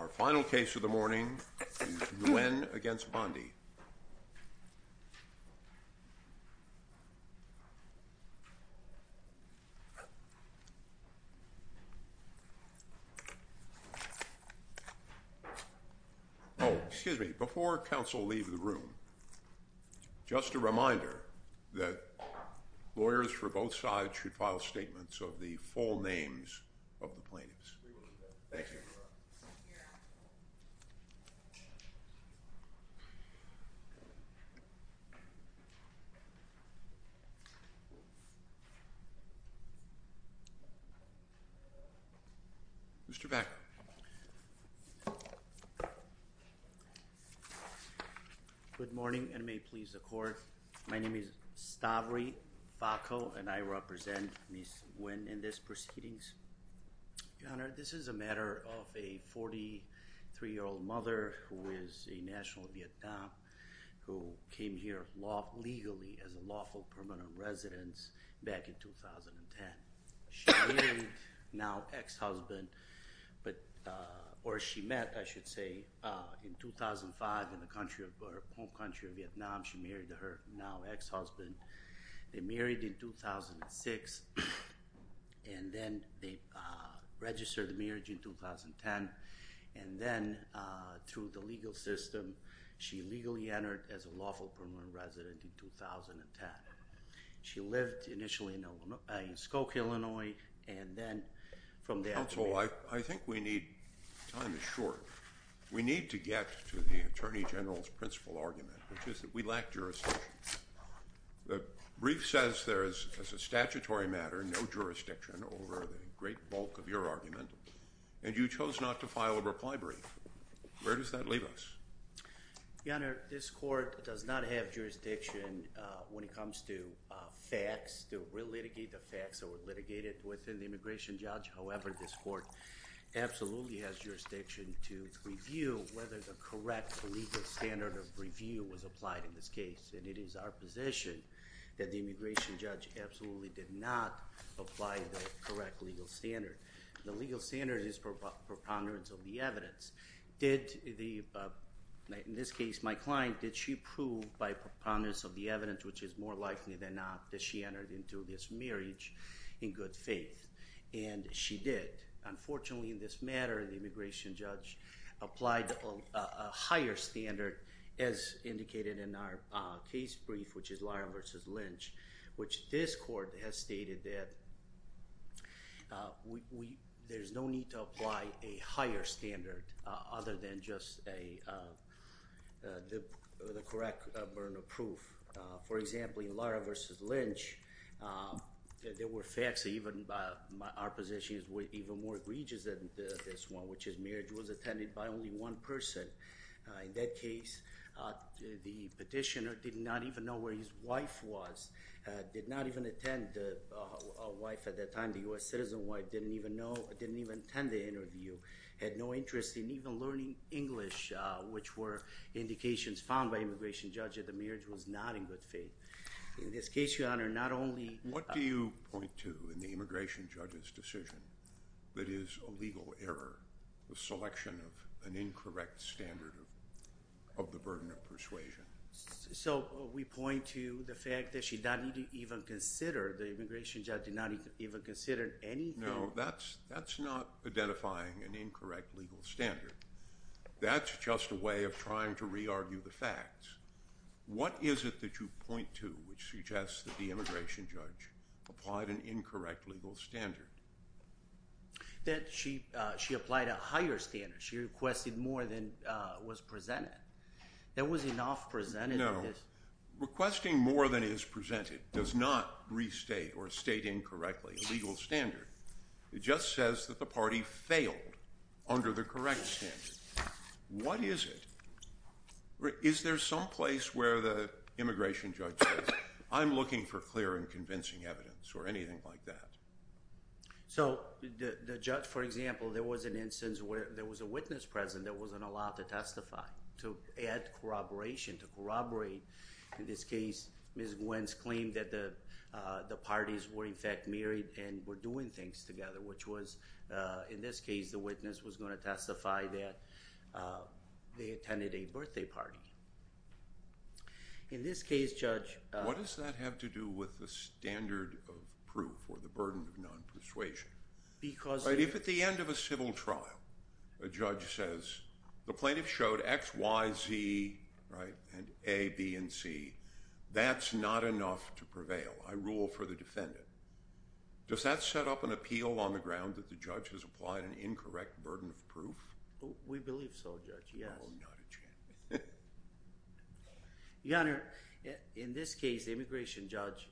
Our final case of the morning is Nguyen v. Bondi. Oh, excuse me. Before counsel leave the room, just a reminder that lawyers for both sides should file statements of the full names of the plaintiffs. Thank you. Mr. Bakker. Good morning and may it please the court. My name is Stavri Bakko and I represent Ms. Nguyen in this proceedings. Your Honor, this is a matter of a 43-year-old mother who is a national of Vietnam who came here legally as a lawful permanent resident back in 2010. She married now ex-husband, or she met, I should say, in 2005 in the home country of Vietnam. She married her now ex-husband. They married in 2006 and then they registered the marriage in 2010 and then through the legal system, she legally entered as a lawful permanent resident in 2010. She lived initially in Skokie, Illinois, and then from there— Counsel, I think we need—time is short. We need to get to the Attorney General's principal argument, which is that we lack jurisdiction. The brief says there is, as a statutory matter, no jurisdiction over the great bulk of your argument, and you chose not to file a reply brief. Where does that leave us? Your Honor, this court does not have jurisdiction when it comes to facts, to re-litigate the facts that were litigated within the immigration judge. However, this court absolutely has jurisdiction to review whether the correct legal standard of review was applied in this case, and it is our position that the immigration judge absolutely did not apply the correct legal standard. The legal standard is preponderance of the evidence. In this case, my client, did she prove by preponderance of the evidence, which is more likely than not, that she entered into this marriage in good faith? And she did. Unfortunately, in this matter, the immigration judge applied a higher standard as indicated in our case brief, which is Lyell v. Lynch, which this court has stated that there's no need to apply a higher standard other than just the correct burden of proof. For example, in Lyell v. Lynch, there were facts, even our position is even more egregious than this one, which is marriage was attended by only one person. In that case, the petitioner did not even know where his wife was, did not even attend a wife at that time, the U.S. citizen wife didn't even know, didn't even attend the interview, had no interest in even learning English, which were indications found by immigration judge that the marriage was not in good faith. What do you point to in the immigration judge's decision that is a legal error, the selection of an incorrect standard of the burden of persuasion? So we point to the fact that she did not even consider, the immigration judge did not even consider anything. No, that's not identifying an incorrect legal standard. That's just a way of trying to re-argue the facts. What is it that you point to which suggests that the immigration judge applied an incorrect legal standard? That she applied a higher standard, she requested more than was presented. There was enough presented. No, requesting more than is presented does not restate or state incorrectly a legal standard. It just says that the party failed under the correct standard. What is it? Is there some place where the immigration judge says, I'm looking for clear and convincing evidence or anything like that? So the judge, for example, there was an instance where there was a witness present that wasn't allowed to testify, to add corroboration, to corroborate. In this case, Ms. Wentz claimed that the parties were, in fact, married and were doing things together, which was, in this case, the witness was going to testify that they attended a birthday party. In this case, Judge… What does that have to do with the standard of proof or the burden of non-persuasion? If at the end of a civil trial, a judge says, the plaintiff showed X, Y, Z, and A, B, and C, that's not enough to prevail. I rule for the defendant. Does that set up an appeal on the ground that the judge has applied an incorrect burden of proof? We believe so, Judge. Your Honor, in this case, the immigration judge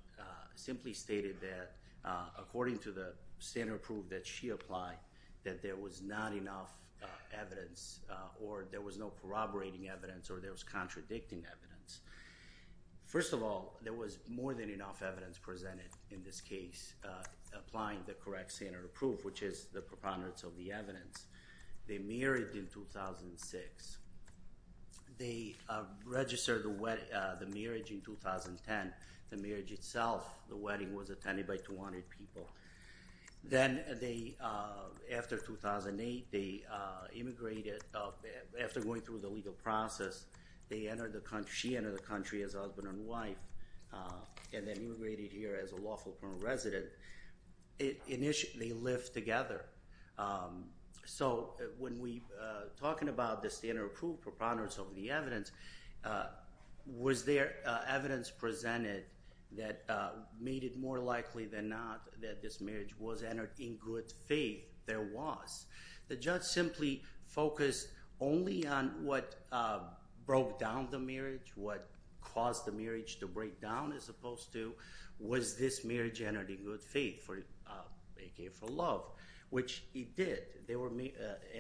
simply stated that, according to the standard of proof that she applied, that there was not enough evidence or there was no corroborating evidence or there was contradicting evidence. First of all, there was more than enough evidence presented in this case applying the correct standard of proof, which is the preponderance of the evidence. They married in 2006. They registered the marriage in 2010. The marriage itself, the wedding, was attended by 200 people. Then, after 2008, they immigrated. After going through the legal process, she entered the country as a husband and wife and then immigrated here as a lawful permanent resident. Initially, they lived together. When we're talking about the standard of proof, preponderance of the evidence, was there evidence presented that made it more likely than not that this marriage was entered in good faith? There was. The judge simply focused only on what broke down the marriage, what caused the marriage to break down as opposed to, was this marriage entered in good faith, a.k.a. for love? Which it did.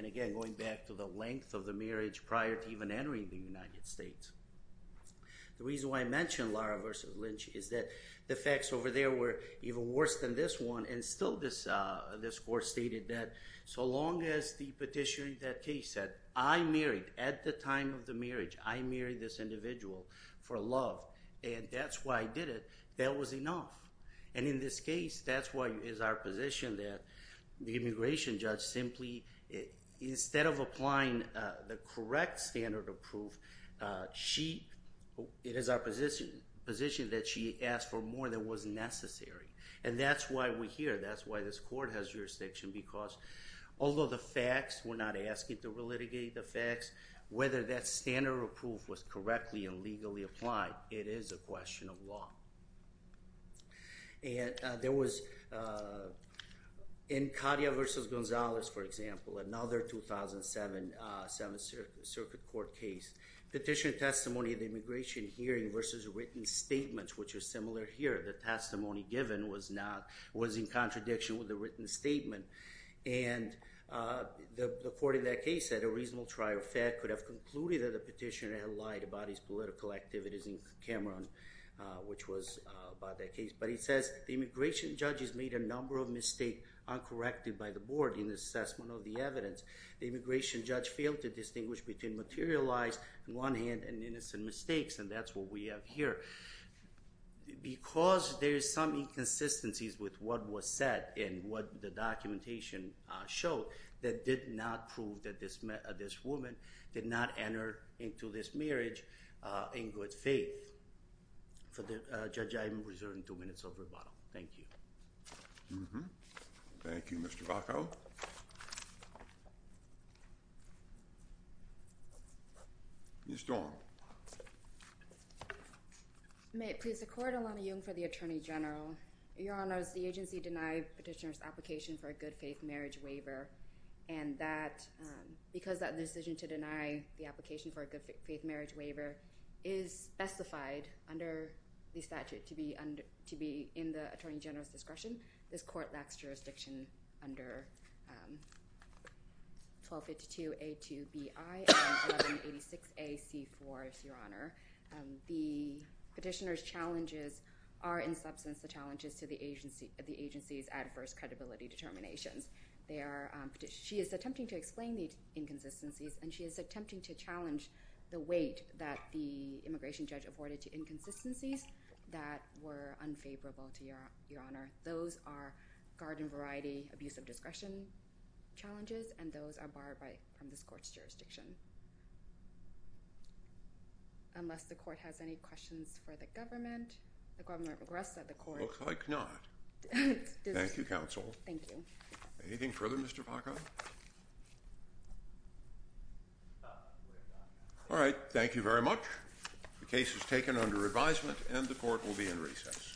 Again, going back to the length of the marriage prior to even entering the United States. The reason why I mentioned Lara v. Lynch is that the facts over there were even worse than this one. Still, this court stated that so long as the petitioner in that case said, I married at the time of the marriage, I married this individual for love and that's why I did it, that was enough. In this case, that's why it is our position that the immigration judge simply, instead of applying the correct standard of proof, it is our position that she asked for more than was necessary. That's why we're here, that's why this court has jurisdiction because although the facts, we're not asking to relitigate the facts, whether that standard of proof was correctly and legally applied, it is a question of law. There was in Katia v. Gonzalez, for example, another 2007 Seventh Circuit Court case, petition testimony of the immigration hearing versus written statements, which is similar here. The testimony given was in contradiction with the written statement and the court in that case had a reasonable trial. Fairfax could have concluded that the petitioner had lied about his political activities in Cameroon, which was by that case, but he says, the immigration judge has made a number of mistakes uncorrected by the board in the assessment of the evidence. The immigration judge failed to distinguish between materialized on one hand and innocent mistakes and that's what we have here. Because there's some inconsistencies with what was said and what the documentation showed, that did not prove that this woman did not enter into this marriage in good faith. Judge, I am reserving two minutes of rebuttal. Thank you. Thank you, Mr. Bacow. Ms. Dorn. May it please the court, Alana Jung for the Attorney General. Your Honors, the agency denied petitioner's application for a good faith marriage waiver and that, because that decision to deny the application for a good faith marriage waiver is specified under the statute to be in the Attorney General's discretion. This court lacks jurisdiction under 1252A2BI and 1186AC4, Your Honor. The petitioner's challenges are in substance the challenges to the agency's adverse credibility determinations. She is attempting to explain the inconsistencies and she is attempting to challenge the weight that the immigration judge afforded to inconsistencies that were unfavorable to Your Honor. Those are garden variety abuse of discretion challenges and those are borrowed from this court's jurisdiction. Unless the court has any questions for the government. The Governor of Arrest said the court. Looks like not. Thank you, Counsel. Thank you. Anything further, Mr. Bacow? All right. Thank you very much. The case is taken under advisement and the court will be in recess. Thank you.